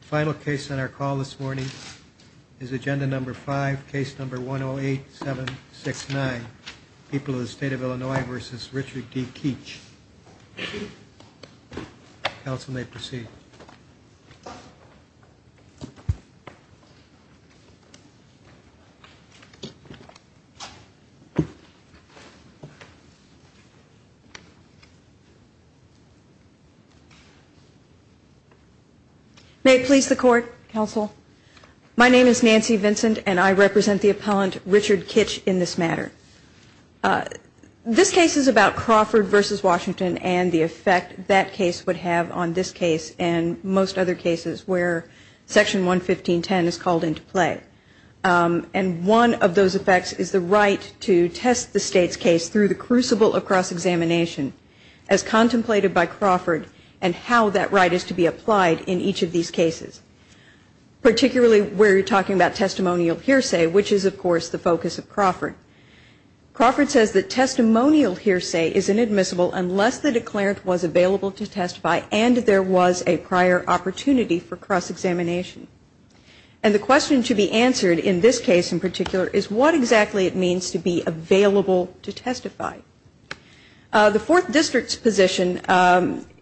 Final case on our call this morning is agenda number 5, case number 108769, People of the State of Illinois v. Richard D. Kitch. Council may proceed. May it please the court, counsel. My name is Nancy Vincent and I represent the appellant Richard Kitch in this matter. This case is about Crawford v. Washington and the effect that case would have on this case and most other cases where section 115.10 is called into play. And one of those effects is the right to test the state's case through the crucible of cross-examination as contemplated by Crawford and how that right is to be applied in each of these cases. Particularly where you're talking about testimonial hearsay, which is of course the focus of Crawford. Crawford says that testimonial hearsay is inadmissible unless the declarant was available to testify and there was a prior opportunity for cross-examination. And the question to be answered in this case in particular is what exactly it means to be available to testify. The fourth district's position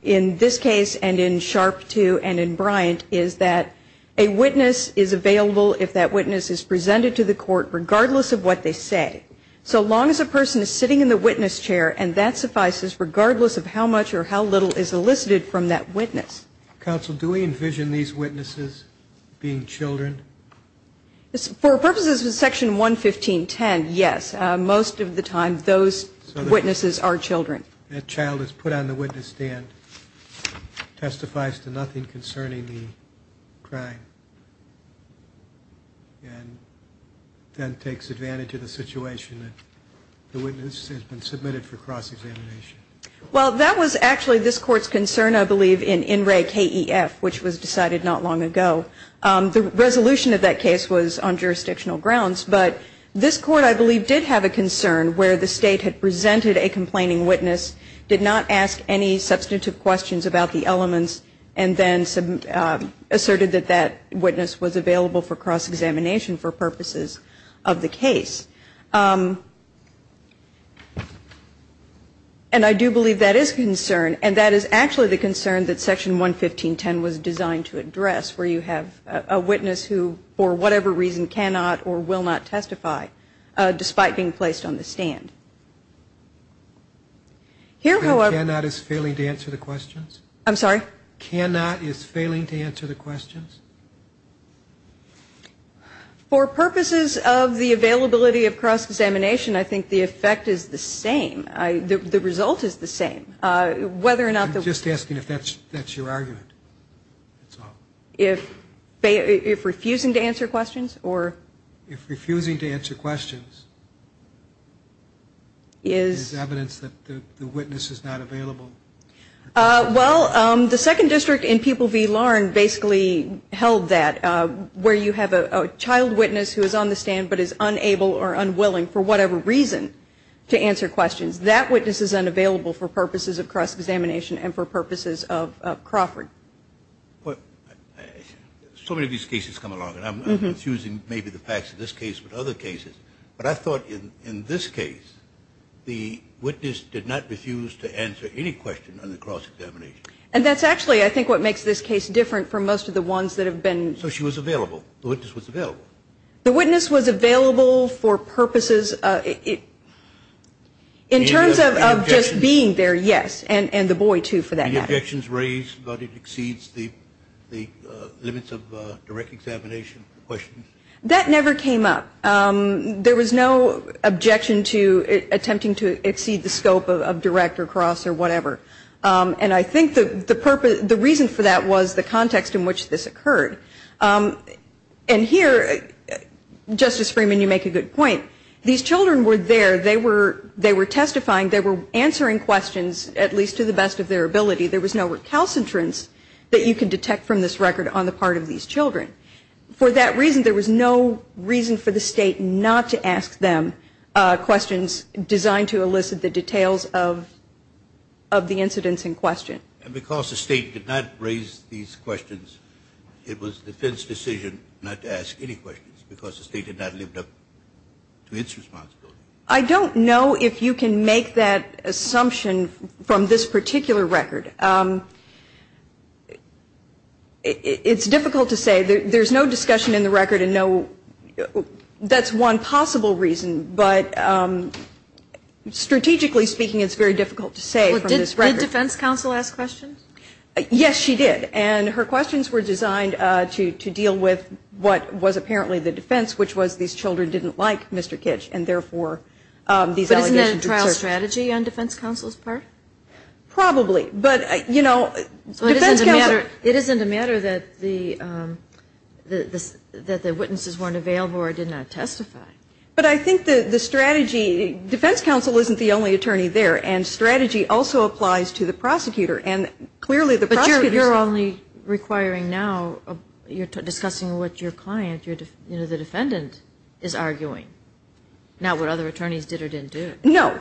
in this case and in SHRP 2 and in Bryant is that a witness is available if that witness is presented to the court regardless of what they say. So long as a person is sitting in the witness chair and that suffices regardless of how much or how little is elicited from that witness. Counsel, do we envision these witnesses being children? For purposes of section 115.10, yes. Most of the time those witnesses are children. That child is put on the witness stand, testifies to nothing concerning the crime, and then takes advantage of the situation that the witness has been submitted for cross-examination. Well, that was actually this Court's concern, I believe, in INRAE-KEF, which was decided not long ago. The resolution of that case was on jurisdictional grounds. But this Court, I believe, did have a concern where the State had presented a complaining witness, did not ask any substantive questions about the elements, and then asserted that that witness was available for cross-examination for purposes of the case. And I do believe that is a concern, and that is actually the concern that section 115.10 was designed to address, where you have a witness who, for whatever reason, cannot or will not testify, despite being placed on the stand. And cannot is failing to answer the questions? I'm sorry? Cannot is failing to answer the questions? For purposes of the availability of cross-examination, I think the effect is the same. The result is the same. Whether or not the... I'm just asking if that's your argument. If refusing to answer questions or... If refusing to answer questions is evidence that the witness is not available. Well, the second district in People v. Lahren basically held that, where you have a child witness who is on the stand but is unable or unwilling, for whatever reason, to answer questions. That witness is unavailable for purposes of cross-examination and for purposes of Crawford. So many of these cases come along, and I'm refusing maybe the facts of this case, but other cases. But I thought in this case, the witness did not refuse to answer any question on the cross-examination. And that's actually, I think, what makes this case different from most of the ones that have been... So she was available. The witness was available. The witness was available for purposes of... In terms of just being there, yes. And the boy, too, for that matter. Any objections raised about it exceeds the limits of direct examination? That never came up. There was no objection to attempting to exceed the scope of direct or cross or whatever. And I think the reason for that was the context in which this occurred. And here, Justice Freeman, you make a good point. These children were there. They were testifying. They were answering questions, at least to the best of their ability. There was no recalcitrance that you can detect from this record on the part of these children. For that reason, there was no reason for the State not to ask them questions designed to elicit the details of the incidents in question. And because the State did not raise these questions, it was the defense's decision not to ask any questions, because the State had not lived up to its responsibility. I don't know if you can make that assumption from this particular record. It's difficult to say. There's no discussion in the record and no... That's one possible reason, but strategically speaking, it's very difficult to say from this record. Did defense counsel ask questions? Yes, she did. And her questions were designed to deal with what was apparently the defense, which was these children didn't like Mr. Kitch, and therefore these allegations... But isn't that a trial strategy on defense counsel's part? Probably. But, you know, defense counsel... It isn't a matter that the witnesses weren't available or did not testify. But I think the strategy... Defense counsel isn't the only attorney there, and strategy also applies to the prosecutor. And clearly the prosecutor... You're only requiring now, you're discussing what your client, the defendant, is arguing, not what other attorneys did or didn't do. No.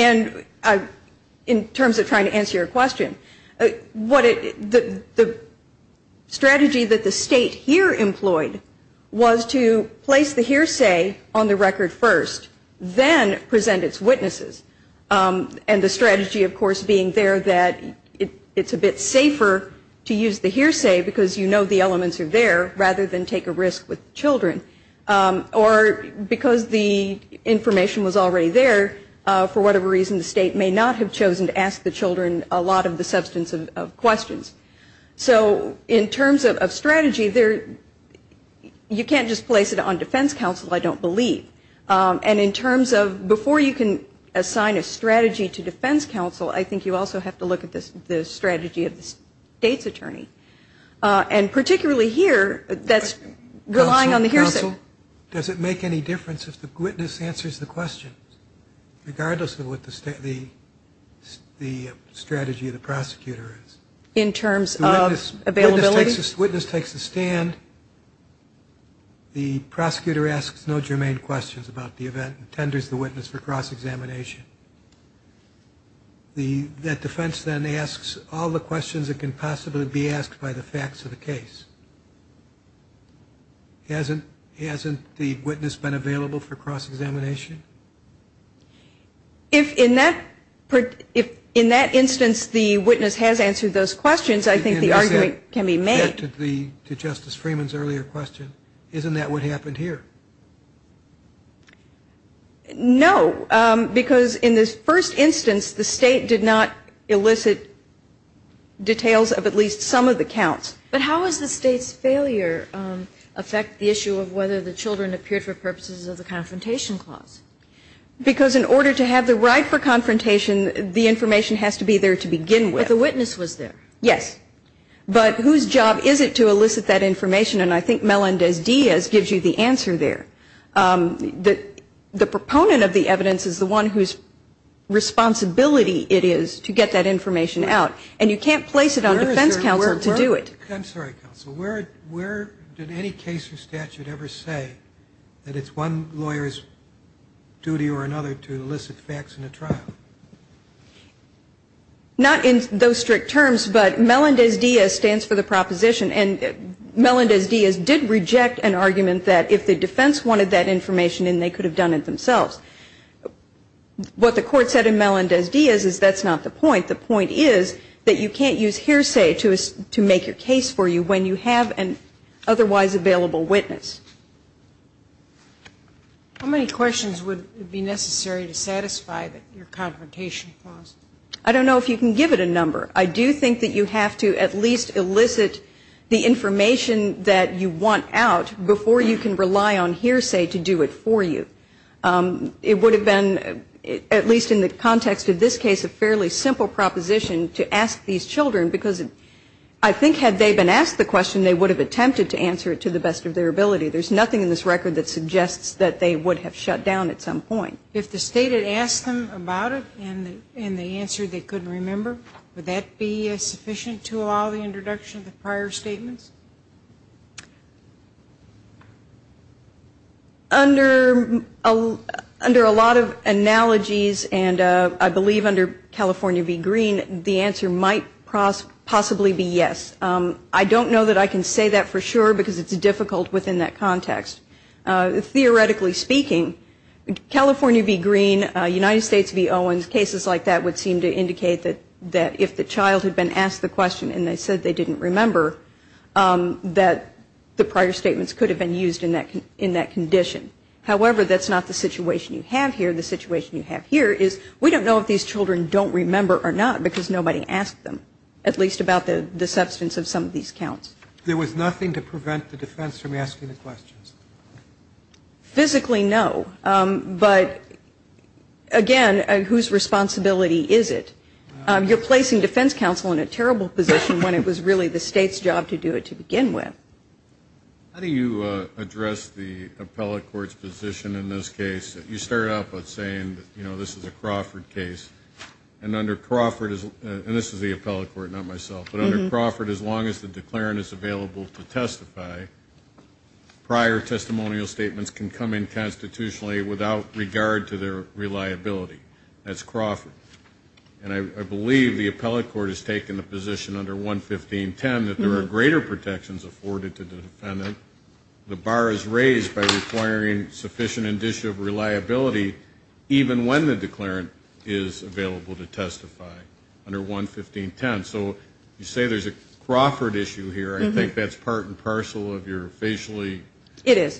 And in terms of trying to answer your question, the strategy that the State here employed was to place the hearsay on the record first, then present its witnesses. And the strategy, of course, being there that it's a bit safer to use the hearsay because you know the elements are there rather than take a risk with children. Or because the information was already there, for whatever reason, the State may not have chosen to ask the children a lot of the substance of questions. So in terms of strategy, you can't just place it on defense counsel, I don't believe. And in terms of before you can assign a strategy to defense counsel, I think you also have to look at the strategy of the State's attorney. And particularly here, that's relying on the hearsay. Counsel, does it make any difference if the witness answers the question, regardless of what the strategy of the prosecutor is? In terms of availability? If the witness takes a stand, the prosecutor asks no germane questions about the event and tenders the witness for cross-examination. That defense then asks all the questions that can possibly be asked by the facts of the case. Hasn't the witness been available for cross-examination? If in that instance the witness has answered those questions, I think the argument can be made. To Justice Freeman's earlier question, isn't that what happened here? No, because in this first instance, the State did not elicit details of at least some of the counts. But how is the State's failure affect the issue of whether the children appeared for purposes of the confrontation clause? Because in order to have the right for confrontation, the information has to be there to begin with. But the witness was there. Yes. But whose job is it to elicit that information? And I think Melendez-Diaz gives you the answer there. The proponent of the evidence is the one whose responsibility it is to get that information out. And you can't place it on defense counsel to do it. I'm sorry, Counsel. Where did any case or statute ever say that it's one lawyer's duty or another to elicit facts in a trial? Not in those strict terms, but Melendez-Diaz stands for the proposition. And Melendez-Diaz did reject an argument that if the defense wanted that information, then they could have done it themselves. What the Court said in Melendez-Diaz is that's not the point. The point is that you can't use hearsay to make your case for you when you have an otherwise available witness. How many questions would be necessary to satisfy your confrontation clause? I don't know if you can give it a number. I do think that you have to at least elicit the information that you want out before you can rely on hearsay to do it for you. It would have been, at least in the context of this case, a fairly simple proposition to ask these children, because I think had they been asked the question, they would have attempted to answer it to the best of their ability. There's nothing in this record that suggests that they would have shut down at some point. If the State had asked them about it and the answer they couldn't remember, would that be sufficient to allow the introduction of the prior statements? Under a lot of analogies, and I believe under California v. Green, the answer might possibly be yes. I don't know that I can say that for sure, because it's difficult within that context. Theoretically speaking, California v. Green, United States v. Owens, cases like that would seem to indicate that if the child had been asked the question and they said they didn't remember, that the prior statements could have been used in that condition. However, that's not the situation you have here. The situation you have here is we don't know if these children don't remember or not, because nobody asked them, at least about the substance of some of these counts. There was nothing to prevent the defense from asking the questions? Physically, no. But, again, whose responsibility is it? You're placing defense counsel in a terrible position when it was really the State's job to do it to begin with. How do you address the appellate court's position in this case? You start out by saying, you know, this is a Crawford case, and under Crawford, and this is the appellate court, not myself, but under Crawford as long as the declaring is available to testify, prior testimonial statements can come in constitutionally without regard to their reliability. That's Crawford. And I believe the appellate court has taken the position under 115.10 that there are greater protections afforded to the defendant. The bar is raised by requiring sufficient indicia of reliability, even when the declarant is available to testify under 115.10. So you say there's a Crawford issue here. I think that's part and parcel of your facially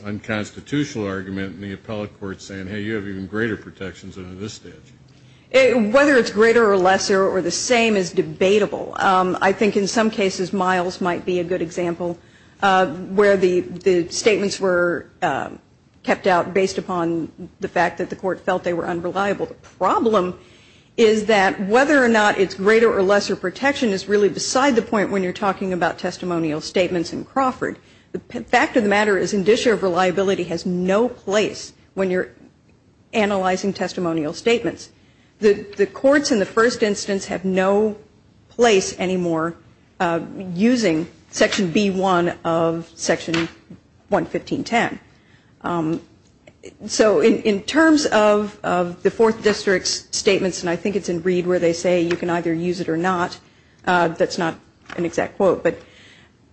unconstitutional argument in the appellate court saying, hey, you have even greater protections under this statute. Whether it's greater or lesser or the same is debatable. I think in some cases Miles might be a good example, where the statements were kept out based upon the fact that the court felt they were unreliable. The problem is that whether or not it's greater or lesser protection is really beside the point when you're talking about testimonial statements in Crawford. The fact of the matter is indicia of reliability has no place when you're analyzing testimonial statements. The courts in the first instance have no place anymore using section B-1 of section 115.10. So in terms of the Fourth District's statements, and I think it's in Reed where they say you can either use it or not, that's not an exact quote, but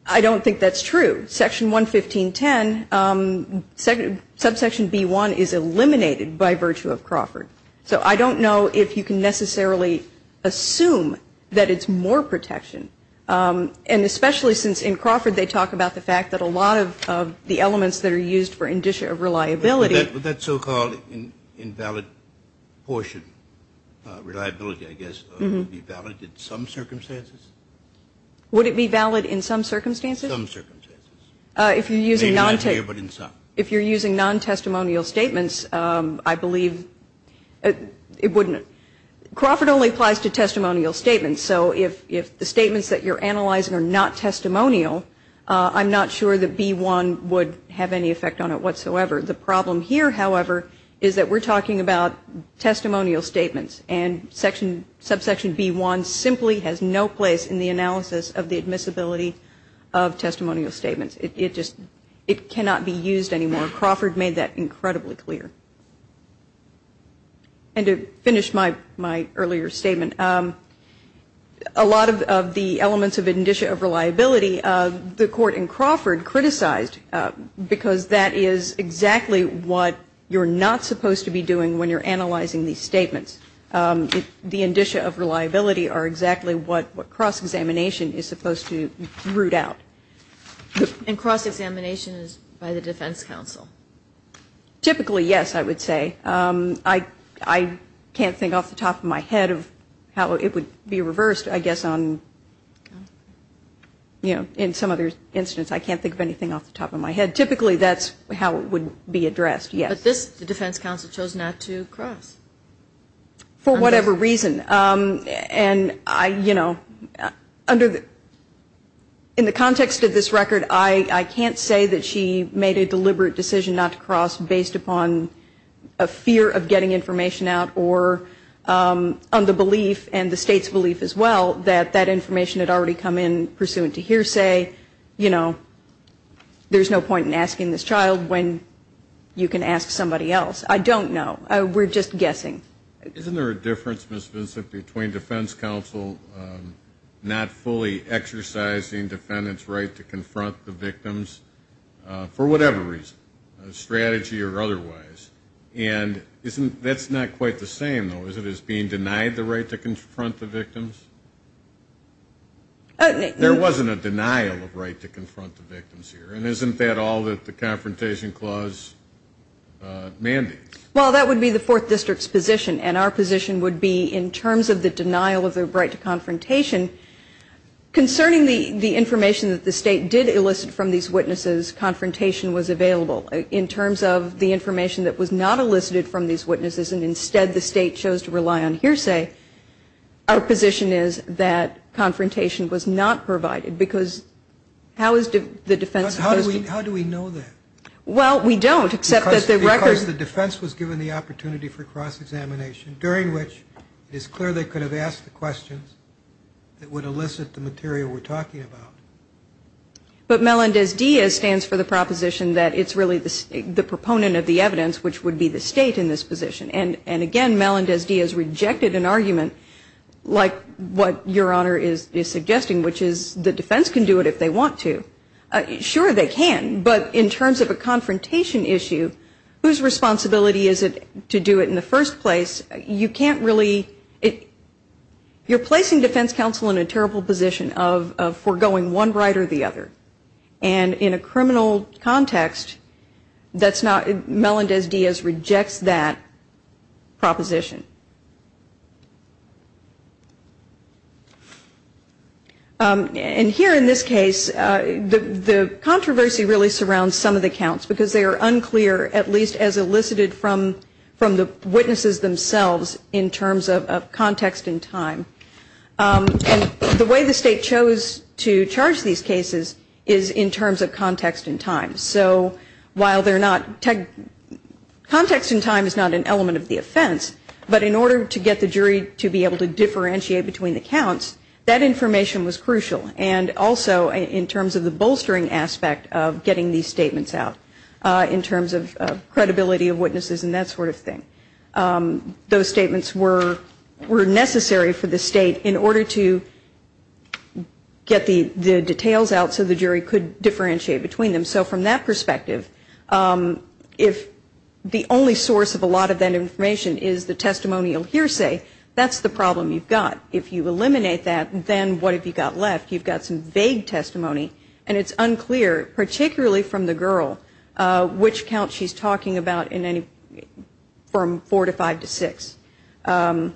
I don't think that's true. Section 115.10, subsection B-1 is eliminated by virtue of Crawford. So I don't know if you can necessarily assume that it's more protection. And especially since in Crawford they talk about the fact that a lot of the elements that are used for indicia of reliability. Would that so-called invalid portion reliability, I guess, be valid in some circumstances? Would it be valid in some circumstances? Some circumstances. Maybe not here, but in some. If you're using non-testimonial statements, I believe it wouldn't. Crawford only applies to testimonial statements. So if the statements that you're analyzing are not testimonial, I'm not sure that B-1 would have any effect on it whatsoever. The problem here, however, is that we're talking about testimonial statements, and subsection B-1 simply has no place in the analysis of the admissibility of testimonial statements. It cannot be used anymore. Crawford made that incredibly clear. And to finish my earlier statement, a lot of the elements of indicia of reliability, the court in Crawford criticized because that is exactly what you're not supposed to be doing when you're analyzing these statements. The indicia of reliability are exactly what cross-examination is supposed to root out. And cross-examination is by the defense counsel? Typically, yes, I would say. I can't think off the top of my head of how it would be reversed, I guess, in some other instance. I can't think of anything off the top of my head. Typically, that's how it would be addressed, yes. But this, the defense counsel chose not to cross. For whatever reason. And, you know, in the context of this record, I can't say that she made a deliberate decision not to cross based upon a fear of getting information out or on the belief and the state's belief as well that that information had already come in pursuant to hearsay. You know, there's no point in asking this child when you can ask somebody else. I don't know. We're just guessing. Isn't there a difference, Ms. Vincent, between defense counsel not fully exercising defendant's right to confront the victims for whatever reason, a strategy or otherwise? And that's not quite the same, though, is it, as being denied the right to confront the victims? There wasn't a denial of right to confront the victims here. And isn't that all that the Confrontation Clause mandates? Well, that would be the Fourth District's position. And our position would be in terms of the denial of the right to confrontation, concerning the information that the state did elicit from these witnesses, confrontation was available. In terms of the information that was not elicited from these witnesses and instead the state chose to rely on hearsay, our position is that confrontation was not provided. Because how is the defense supposed to? How do we know that? Well, we don't, except that the record. Because the defense was given the opportunity for cross-examination, during which it is clear they could have asked the questions that would elicit the material we're talking about. But Melendez-Diaz stands for the proposition that it's really the proponent of the evidence, which would be the state in this position. And again, Melendez-Diaz rejected an argument like what Your Honor is suggesting, which is the defense can do it if they want to. Sure, they can. But in terms of a confrontation issue, whose responsibility is it to do it in the first place? You can't really – you're placing defense counsel in a terrible position of foregoing one right or the other. And in a criminal context, that's not – Melendez-Diaz rejects that proposition. And here in this case, the controversy really surrounds some of the counts, because they are unclear, at least as elicited from the witnesses themselves, in terms of context and time. And the way the state chose to charge these cases is in terms of context and time. So while they're not – context and time is not an element of the offense, but in order to get the jury to be able to differentiate between the counts, that information was crucial. And also in terms of the bolstering aspect of getting these statements out, in terms of credibility of witnesses and that sort of thing. Those statements were necessary for the state in order to get the details out so the jury could differentiate between them. So from that perspective, if the only source of a lot of that information is the testimonial hearsay, that's the problem you've got. If you eliminate that, then what have you got left? You've got some vague testimony. And it's unclear, particularly from the girl, which count she's talking about in any – from four to five to six. And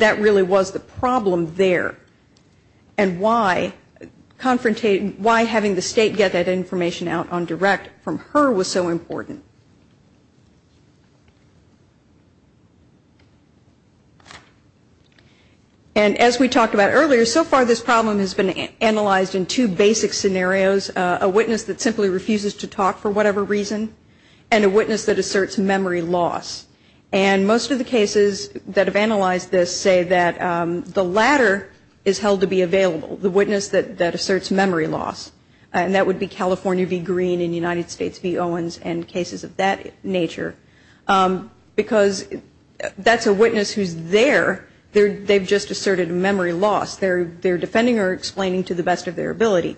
that really was the problem there. And why having the state get that information out on direct from her was so important. And as we talked about earlier, so far this problem has been analyzed in two basic scenarios, a witness that simply refuses to talk for whatever reason, and a witness that asserts memory loss. And most of the cases that have analyzed this say that the latter is held to be available, the witness that asserts memory loss. And that would be California v. Green and United States v. Owens and cases like that. Because that's a witness who's there. They've just asserted memory loss. They're defending or explaining to the best of their ability.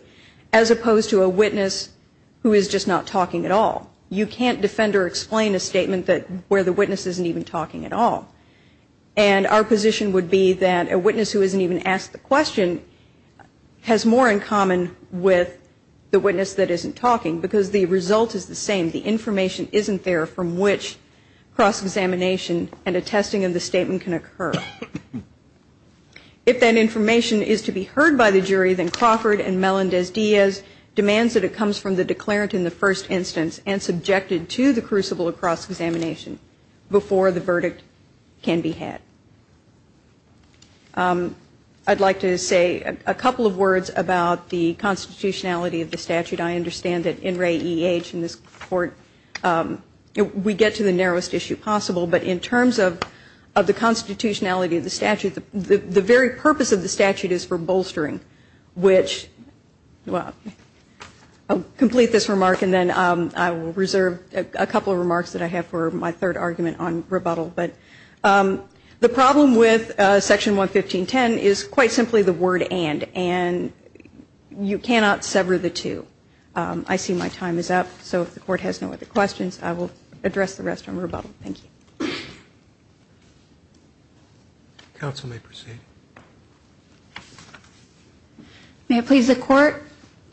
As opposed to a witness who is just not talking at all. You can't defend or explain a statement where the witness isn't even talking at all. And our position would be that a witness who isn't even asked the question has more in common with the witness that isn't talking. Because the result is the same. The information isn't there from which cross-examination and attesting of the statement can occur. If that information is to be heard by the jury, then Crawford and Melendez-Diaz demands that it comes from the declarant in the first instance and subjected to the crucible of cross-examination before the verdict can be had. I'd like to say a couple of words about the constitutionality of the statute. I understand that in Ray E. H. and this court, we get to the narrowest issue possible. But in terms of the constitutionality of the statute, the very purpose of the statute is for bolstering. Which, well, I'll complete this remark and then I will reserve a couple of remarks that I have for my third argument on rebuttal. But the problem with Section 115.10 is quite simply the word and. And you cannot sever the two. I see my time is up. So if the court has no other questions, I will address the rest on rebuttal. Thank you. Counsel may proceed. May it please the court.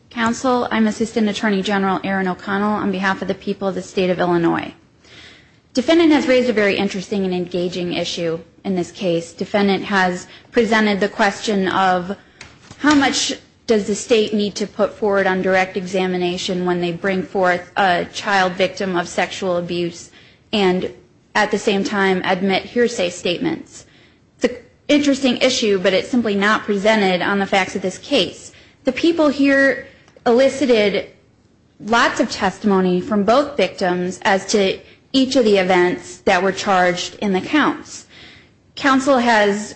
Counsel, I'm Assistant Attorney General Erin O'Connell on behalf of the people of the state of Illinois. Defendant has raised a very interesting and engaging issue in this case. Defendant has presented the question of how much does the state need to put forward on direct examination when they bring forth a child victim of sexual abuse and at the same time admit hearsay statements. It's an interesting issue, but it's simply not presented on the facts of this case. The people here elicited lots of testimony from both victims as to each of the events that were charged in the counts. Counsel has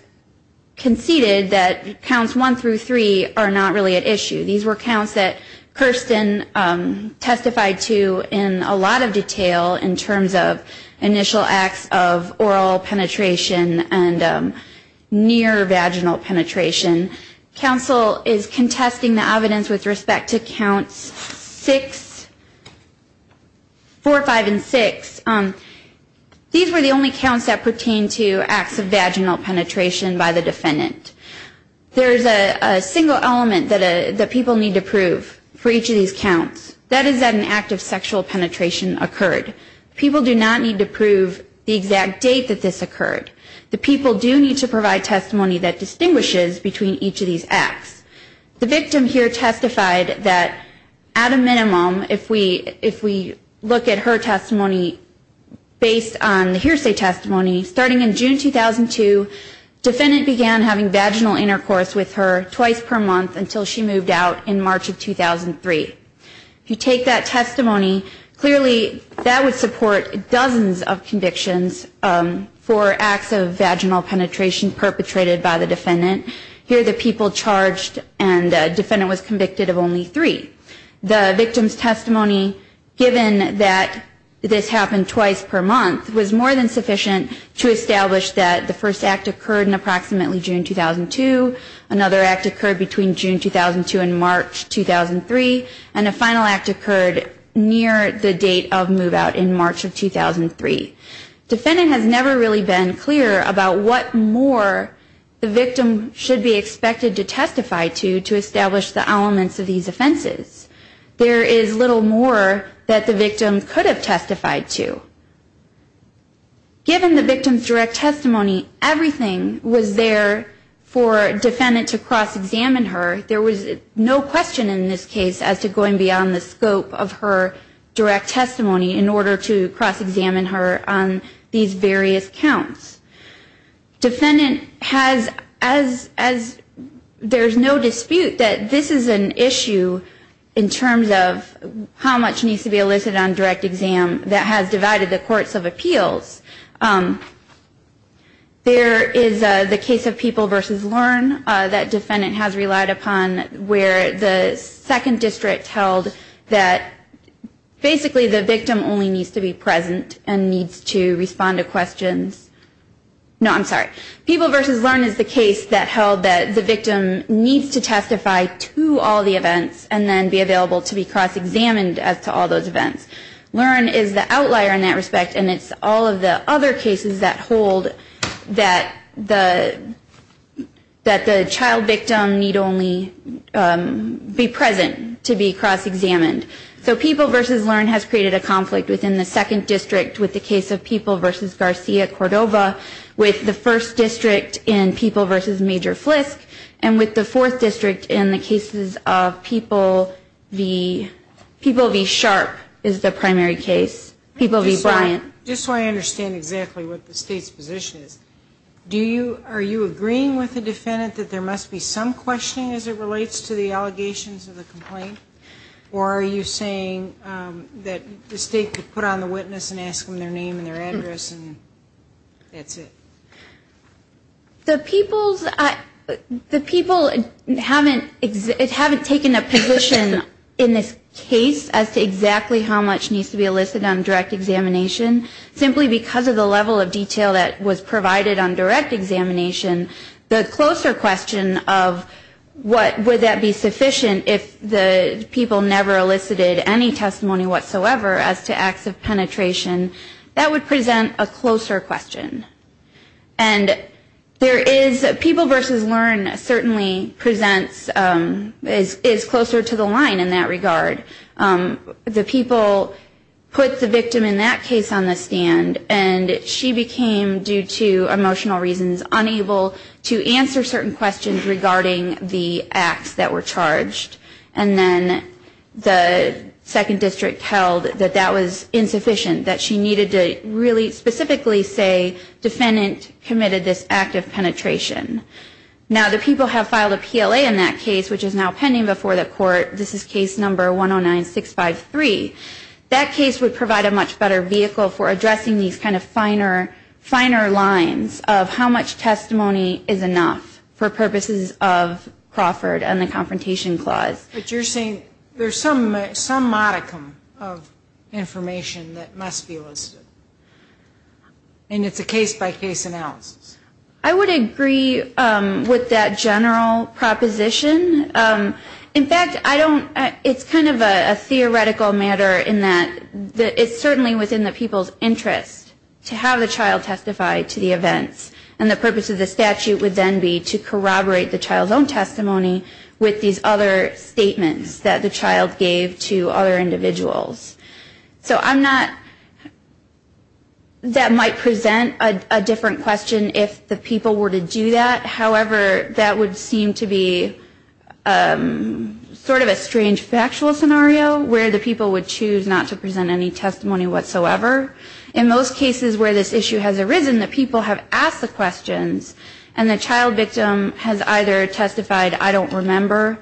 conceded that counts one through three are not really at issue. These were counts that Kirsten testified to in a lot of detail in terms of initial acts of oral penetration and near vaginal penetration. Counsel is contesting the evidence with respect to counts four, five, and six. These were the only counts that pertained to acts of vaginal penetration by the defendant. There is a single element that people need to prove for each of these counts. That is that an act of sexual penetration occurred. People do not need to prove the exact date that this occurred. The people do need to provide testimony that distinguishes between each of these acts. The victim here testified that at a minimum, if we look at her testimony based on the hearsay testimony, starting in June 2002, defendant began having vaginal intercourse with her twice per month until she moved out in March of 2003. If you take that testimony, clearly that would support dozens of convictions for acts of vaginal penetration perpetrated by the defendant. Here the people charged and the defendant was convicted of only three. The victim's testimony, given that this happened twice per month, was more than sufficient to establish that the first act occurred in approximately June 2002. Another act occurred between June 2002 and March 2003. And a final act occurred near the date of move out in March of 2003. Defendant has never really been clear about what more the victim should be expected to testify to to establish the elements of these offenses. There is little more that the victim could have testified to. Given the victim's direct testimony, everything was there for defendant to cross-examine her. There was no question in this case as to going beyond the scope of her direct testimony in order to cross-examine her on these various counts. Defendant has, as there is no dispute, that this is an issue in terms of how much needs to be elicited on direct exam that has divided the court. There is the case of People v. Learn that defendant has relied upon where the second district held that basically the victim only needs to be present and needs to respond to questions. No, I'm sorry. People v. Learn is the case that held that the victim needs to testify to all the events and then be available to be cross-examined as to all those events. Learn is the outlier in that respect, and it's all of the other cases that hold that the child victim need only be present to be cross-examined. So People v. Learn has created a conflict within the second district with the case of People v. Garcia Cordova, with the first district in People v. Major Flisk, and with the fourth district in the cases of People v. Sharp. And that's the primary case, People v. Bryant. Just so I understand exactly what the state's position is, are you agreeing with the defendant that there must be some questioning as it relates to the allegations of the complaint? Or are you saying that the state could put on the witness and ask them their name and their address and that's it? The people haven't taken a position in this case as to exactly how much needs to be elicited. How much needs to be elicited on direct examination. Simply because of the level of detail that was provided on direct examination, the closer question of what would that be sufficient if the people never elicited any testimony whatsoever as to acts of penetration, that would present a closer question. And there is, People v. Learn certainly presents, is closer to the line in that regard. The people put the victim in that case on the stand, and she became, due to emotional reasons, unable to answer certain questions regarding the acts that were charged. And then the second district held that that was insufficient, that she needed to really specifically say, defendant committed this act of penetration. Now the people have filed a PLA in that case, which is now pending before the court. This is case number 109653. That case would provide a much better vehicle for addressing these kind of finer, finer lines of how much testimony is enough for purposes of Crawford and the Confrontation Clause. But you're saying there's some modicum of information that must be elicited. And it's a case-by-case analysis. I would agree with that general proposition. In fact, I don't, it's kind of a theoretical matter in that it's certainly within the people's interest to have the child testify to the events, and the purpose of the statute would then be to corroborate the child's own testimony with these other statements that the child gave to other individuals. So I'm not, that might present a different question if the people were to do that. However, that would seem to be sort of a strange factual scenario, where the people would choose not to present any testimony whatsoever. In most cases where this issue has arisen, the people have asked the questions, and the child victim has either testified, I don't remember,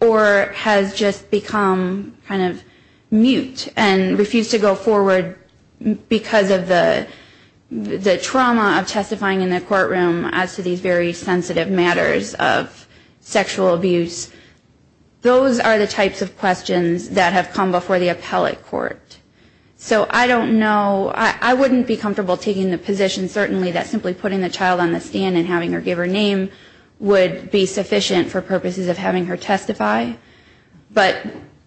or has just become kind of mute. And refused to go forward because of the trauma of testifying in the courtroom as to these very sensitive matters of sexual abuse. Those are the types of questions that have come before the appellate court. So I don't know, I wouldn't be comfortable taking the position, certainly, that simply putting the child on the stand and having her give her name would be sufficient for purposes of having her testify. But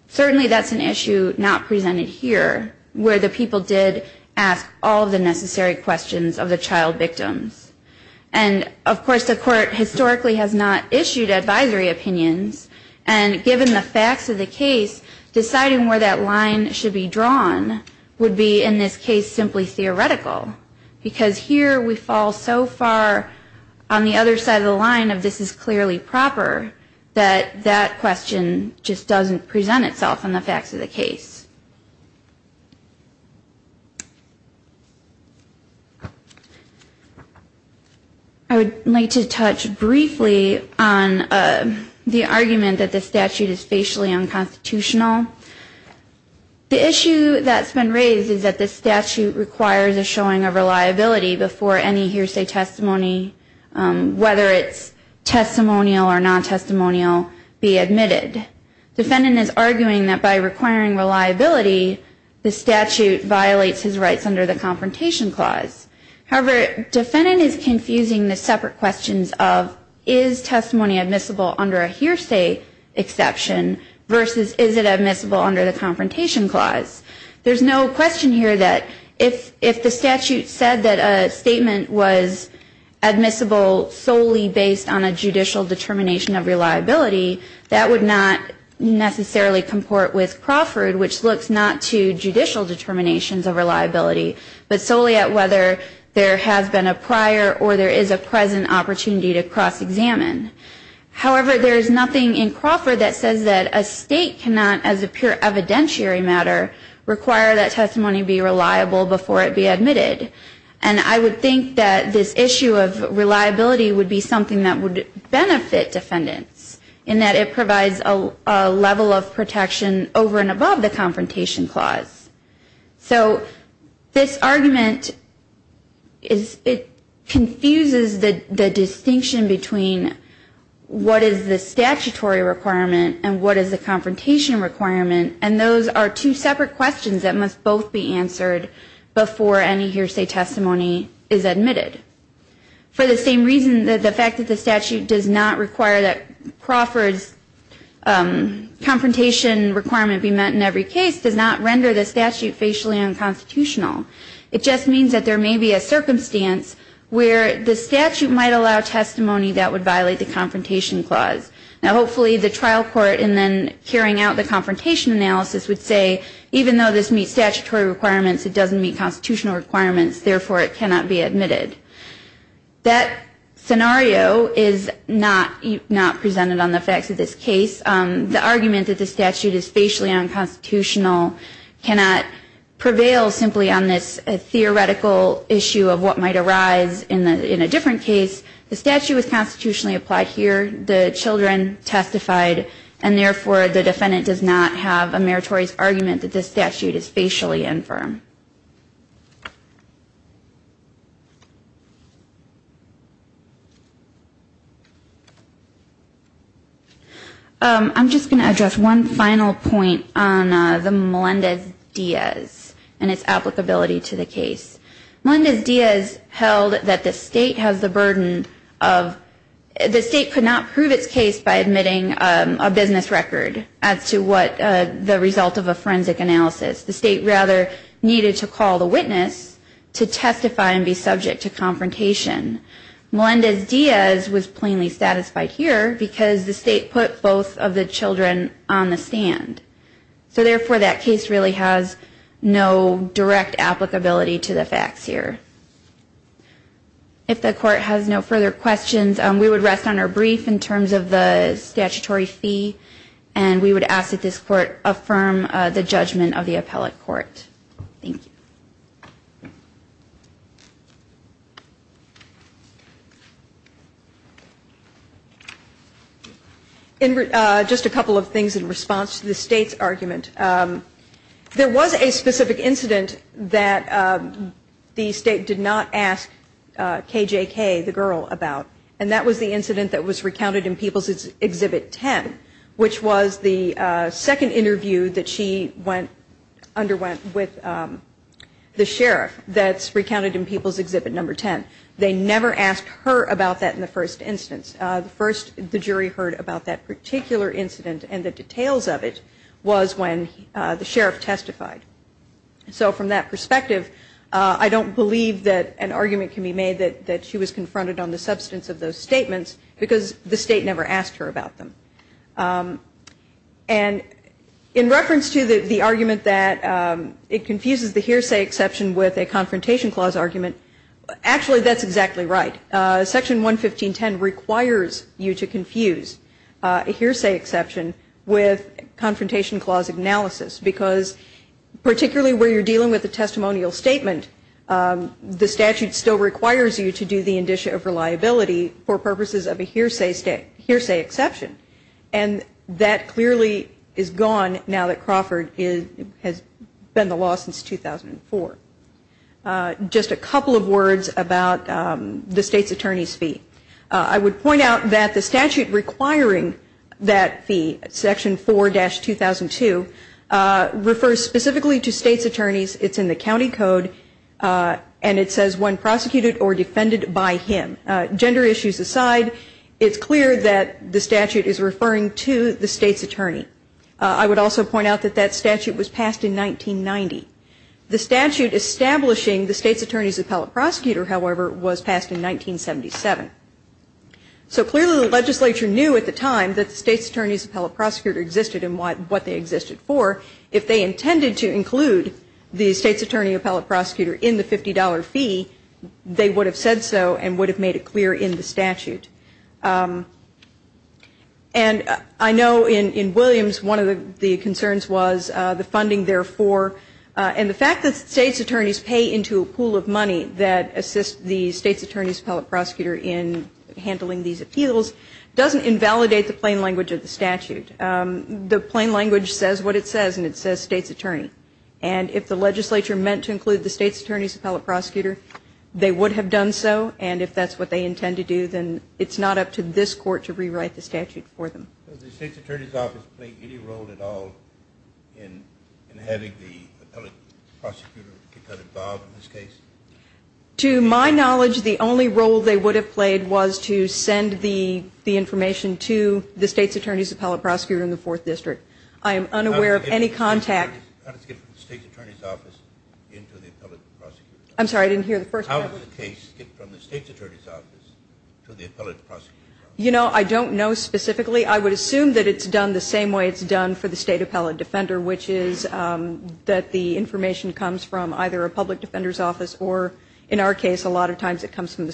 certainly that's an issue not presented here, where the people did ask all of the necessary questions of the child victims. And, of course, the court historically has not issued advisory opinions, and given the facts of the case, deciding where that line should be drawn would be, in this case, simply theoretical. Because here we fall so far on the other side of the line of this is clearly proper, that that question should not be asked. That question just doesn't present itself in the facts of the case. I would like to touch briefly on the argument that this statute is facially unconstitutional. The issue that's been raised is that this statute requires a showing of reliability before any hearsay testimony, whether it's testimonial or non-testimonial, be admitted. The defendant is arguing that by requiring reliability, the statute violates his rights under the Confrontation Clause. However, the defendant is confusing the separate questions of, is testimony admissible under a hearsay exception, versus is it admissible under the Confrontation Clause? There's no question here that if the statute said that a statement was admissible solely based on a judicial determination of reliability, that would not be the case. It would not necessarily comport with Crawford, which looks not to judicial determinations of reliability, but solely at whether there has been a prior or there is a present opportunity to cross-examine. However, there is nothing in Crawford that says that a state cannot, as a pure evidentiary matter, require that testimony be reliable before it be admitted. And I would think that this issue of reliability would be something that would benefit defendants, in that it provides a lot of leeway for the defendant to be able to make a statement. However, there is no level of protection over and above the Confrontation Clause. So this argument, it confuses the distinction between what is the statutory requirement and what is the Confrontation Requirement, and those are two separate questions that must both be answered before any hearsay testimony is admitted. For the same reason, the fact that the statute does not require that Crawford's Confrontation Requirement be met in every case does not render the statute facially unconstitutional. It just means that there may be a circumstance where the statute might allow testimony that would violate the Confrontation Clause. Now, hopefully, the trial court, in then carrying out the Confrontation Analysis, would say, even though this meets statutory requirements, it doesn't meet constitutional requirements. Therefore, it cannot be admitted. That scenario is not presented on the facts of this case. The argument that the statute is facially unconstitutional cannot prevail simply on this theoretical issue of what might arise in a different case. The statute was constitutionally applied here, the children testified, and therefore, the defendant does not have a meritorious argument that this statute is facially infirm. I'm just going to address one final point on the Melendez-Diaz and its applicability to the case. Melendez-Diaz held that the state could not prove its case by admitting a business record as to the result of a forensic analysis. The state, rather, needed to call the witness to testify and be subject to confrontation. Melendez-Diaz was plainly satisfied here because the state put both of the children on the stand. So therefore, that case really has no direct applicability to the facts here. If the court has no further questions, we would rest on our brief in terms of the statutory fee, and we would ask that this court affirm the judgment of the case before the appellate court. In just a couple of things in response to the state's argument, there was a specific incident that the state did not ask KJK, the girl, about. And that was the incident that was recounted in People's Exhibit 10, which was the second interview that she went on to ask KJK about. And that interview underwent with the sheriff that's recounted in People's Exhibit 10. They never asked her about that in the first instance. The first the jury heard about that particular incident and the details of it was when the sheriff testified. So from that perspective, I don't believe that an argument can be made that she was confronted on the substance of those statements, because the state never asked her about them. It confuses the hearsay exception with a confrontation clause argument. Actually, that's exactly right. Section 115.10 requires you to confuse a hearsay exception with confrontation clause analysis, because particularly where you're dealing with a testimonial statement, the statute still requires you to do the indicia of reliability for purposes of a hearsay exception. And that clearly is gone now that Crawford has been the law since 2004. Just a couple of words about the state's attorney's fee. I would point out that the statute requiring that fee, Section 4-2002, refers specifically to state's attorneys. It's in the county code, and it says when prosecuted or defended by him. Gender issues aside, it's clear that the statute is referring to the state's attorney. I would also point out that that statute was passed in 1990. The statute establishing the state's attorney's appellate prosecutor, however, was passed in 1977. So clearly the legislature knew at the time that the state's attorney's appellate prosecutor existed and what they existed for. If they intended to include the state's attorney appellate prosecutor in the $50 fee, they would have said so and would have made a clear in the statute. And I know in Williams one of the concerns was the funding therefore, and the fact that state's attorneys pay into a pool of money that assists the state's attorney's appellate prosecutor in handling these appeals doesn't invalidate the plain language of the statute. The plain language says what it says, and it says state's attorney. And if the legislature meant to include the state's attorney's appellate prosecutor, they would have done so. And if that's what they intend to do, then it's not up to this court to rewrite the statute for them. Does the state's attorney's office play any role at all in having the appellate prosecutor get involved in this case? To my knowledge, the only role they would have played was to send the information to the state's attorney's appellate prosecutor in the 4th district. I am unaware of any contact. How does the case get from the state's attorney's office to the appellate prosecutor's office? You know, I don't know specifically. I would assume that it's done the same way it's done for the state appellate defender, which is that the information comes from either a public attorney or the state's attorney's office, and if that's the situation,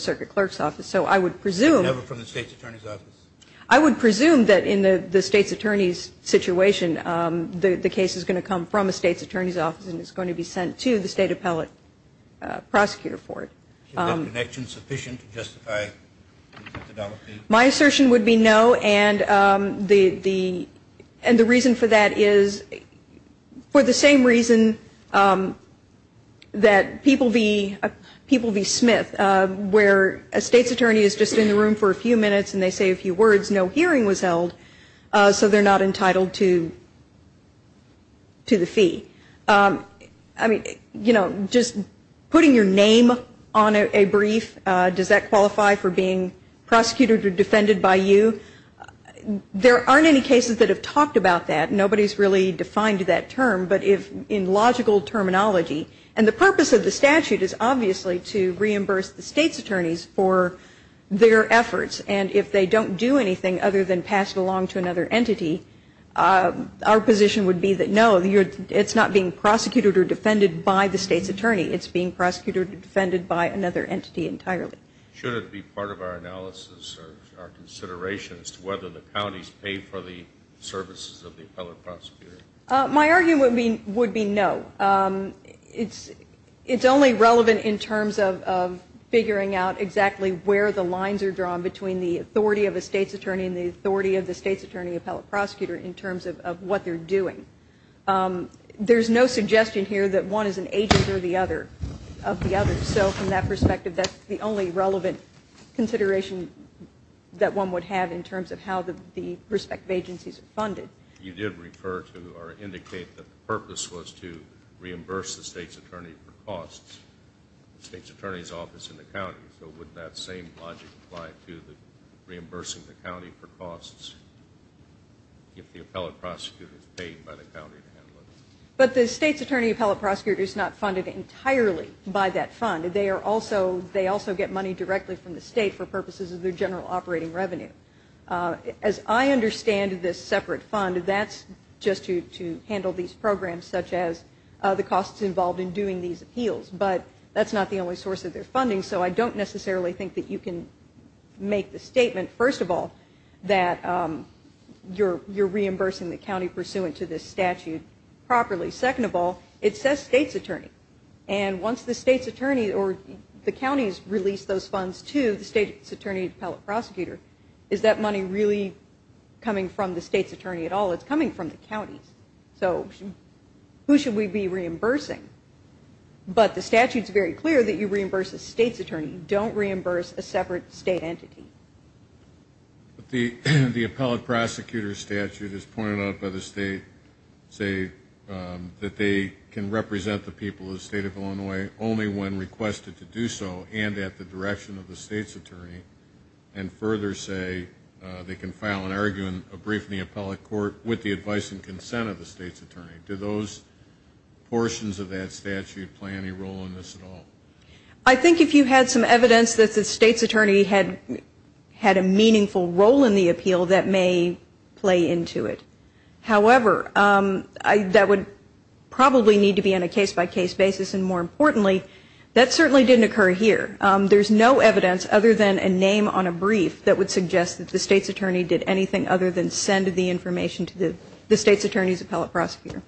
the case is going to come from a state's attorney's office and it's going to be sent to the state appellate prosecutor for it. Is that connection sufficient to justify the $50? My assertion would be no, and the reason for that is for the same reason that people be smith, where a state's attorney is just in the room for a few minutes and they say a few words, no hearing was held, so they're not entitled to a hearing. To the fee. I mean, you know, just putting your name on a brief, does that qualify for being prosecuted or defended by you? There aren't any cases that have talked about that. Nobody's really defined that term, but in logical terminology, and the purpose of the statute is obviously to reimburse the state's attorneys for their efforts. And if they don't do anything other than pass it along to another entity, our position would be that, no, it's not being prosecuted or defended by the state's attorney. It's being prosecuted or defended by another entity entirely. Should it be part of our analysis or our consideration as to whether the counties pay for the services of the appellate prosecutor? My argument would be no. It's only relevant in terms of figuring out exactly where the lines are drawn between the state's attorney and the state's attorney. And the authority of the state's attorney and the authority of the state's attorney appellate prosecutor in terms of what they're doing. There's no suggestion here that one is an agent of the other. So from that perspective, that's the only relevant consideration that one would have in terms of how the respective agencies are funded. You did refer to or indicate that the purpose was to reimburse the state's attorney for costs. The state's attorney's office in the county. So would that same logic apply to the reimbursing the county for costs if the appellate prosecutor is paid by the county to handle it? But the state's attorney appellate prosecutor is not funded entirely by that fund. They also get money directly from the state for purposes of their general operating revenue. As I understand this separate fund, that's just to handle these programs such as the costs involved in doing these appeals. But that's not the only source of their funding, so I don't necessarily think that you can make the statement, first of all, that you're reimbursing the county pursuant to this statute properly. Second of all, it says state's attorney. And once the state's attorney or the counties release those funds to the state's attorney appellate prosecutor, is that money really coming from the state's attorney at all? It's coming from the counties. So who should we be reimbursing? But the statute's very clear that you reimburse the state's attorney. Don't reimburse a separate state entity. The appellate prosecutor statute is pointed out by the state, say that they can represent the people of the state of Illinois only when requested to do so and at the direction of the state's attorney. And further say they can file an argument, a brief in the appellate court with the advice and consent of the state's attorney. Do those portions of that statute play any role in this at all? I think if you had some evidence that the state's attorney had a meaningful role in the appeal, that may play into it. However, that would probably need to be on a case-by-case basis, and more importantly, that certainly didn't occur here. There's no evidence other than a name on a brief that would suggest that the state's attorney did anything other than send the information to the state's attorney's appellate prosecutor. Thank you.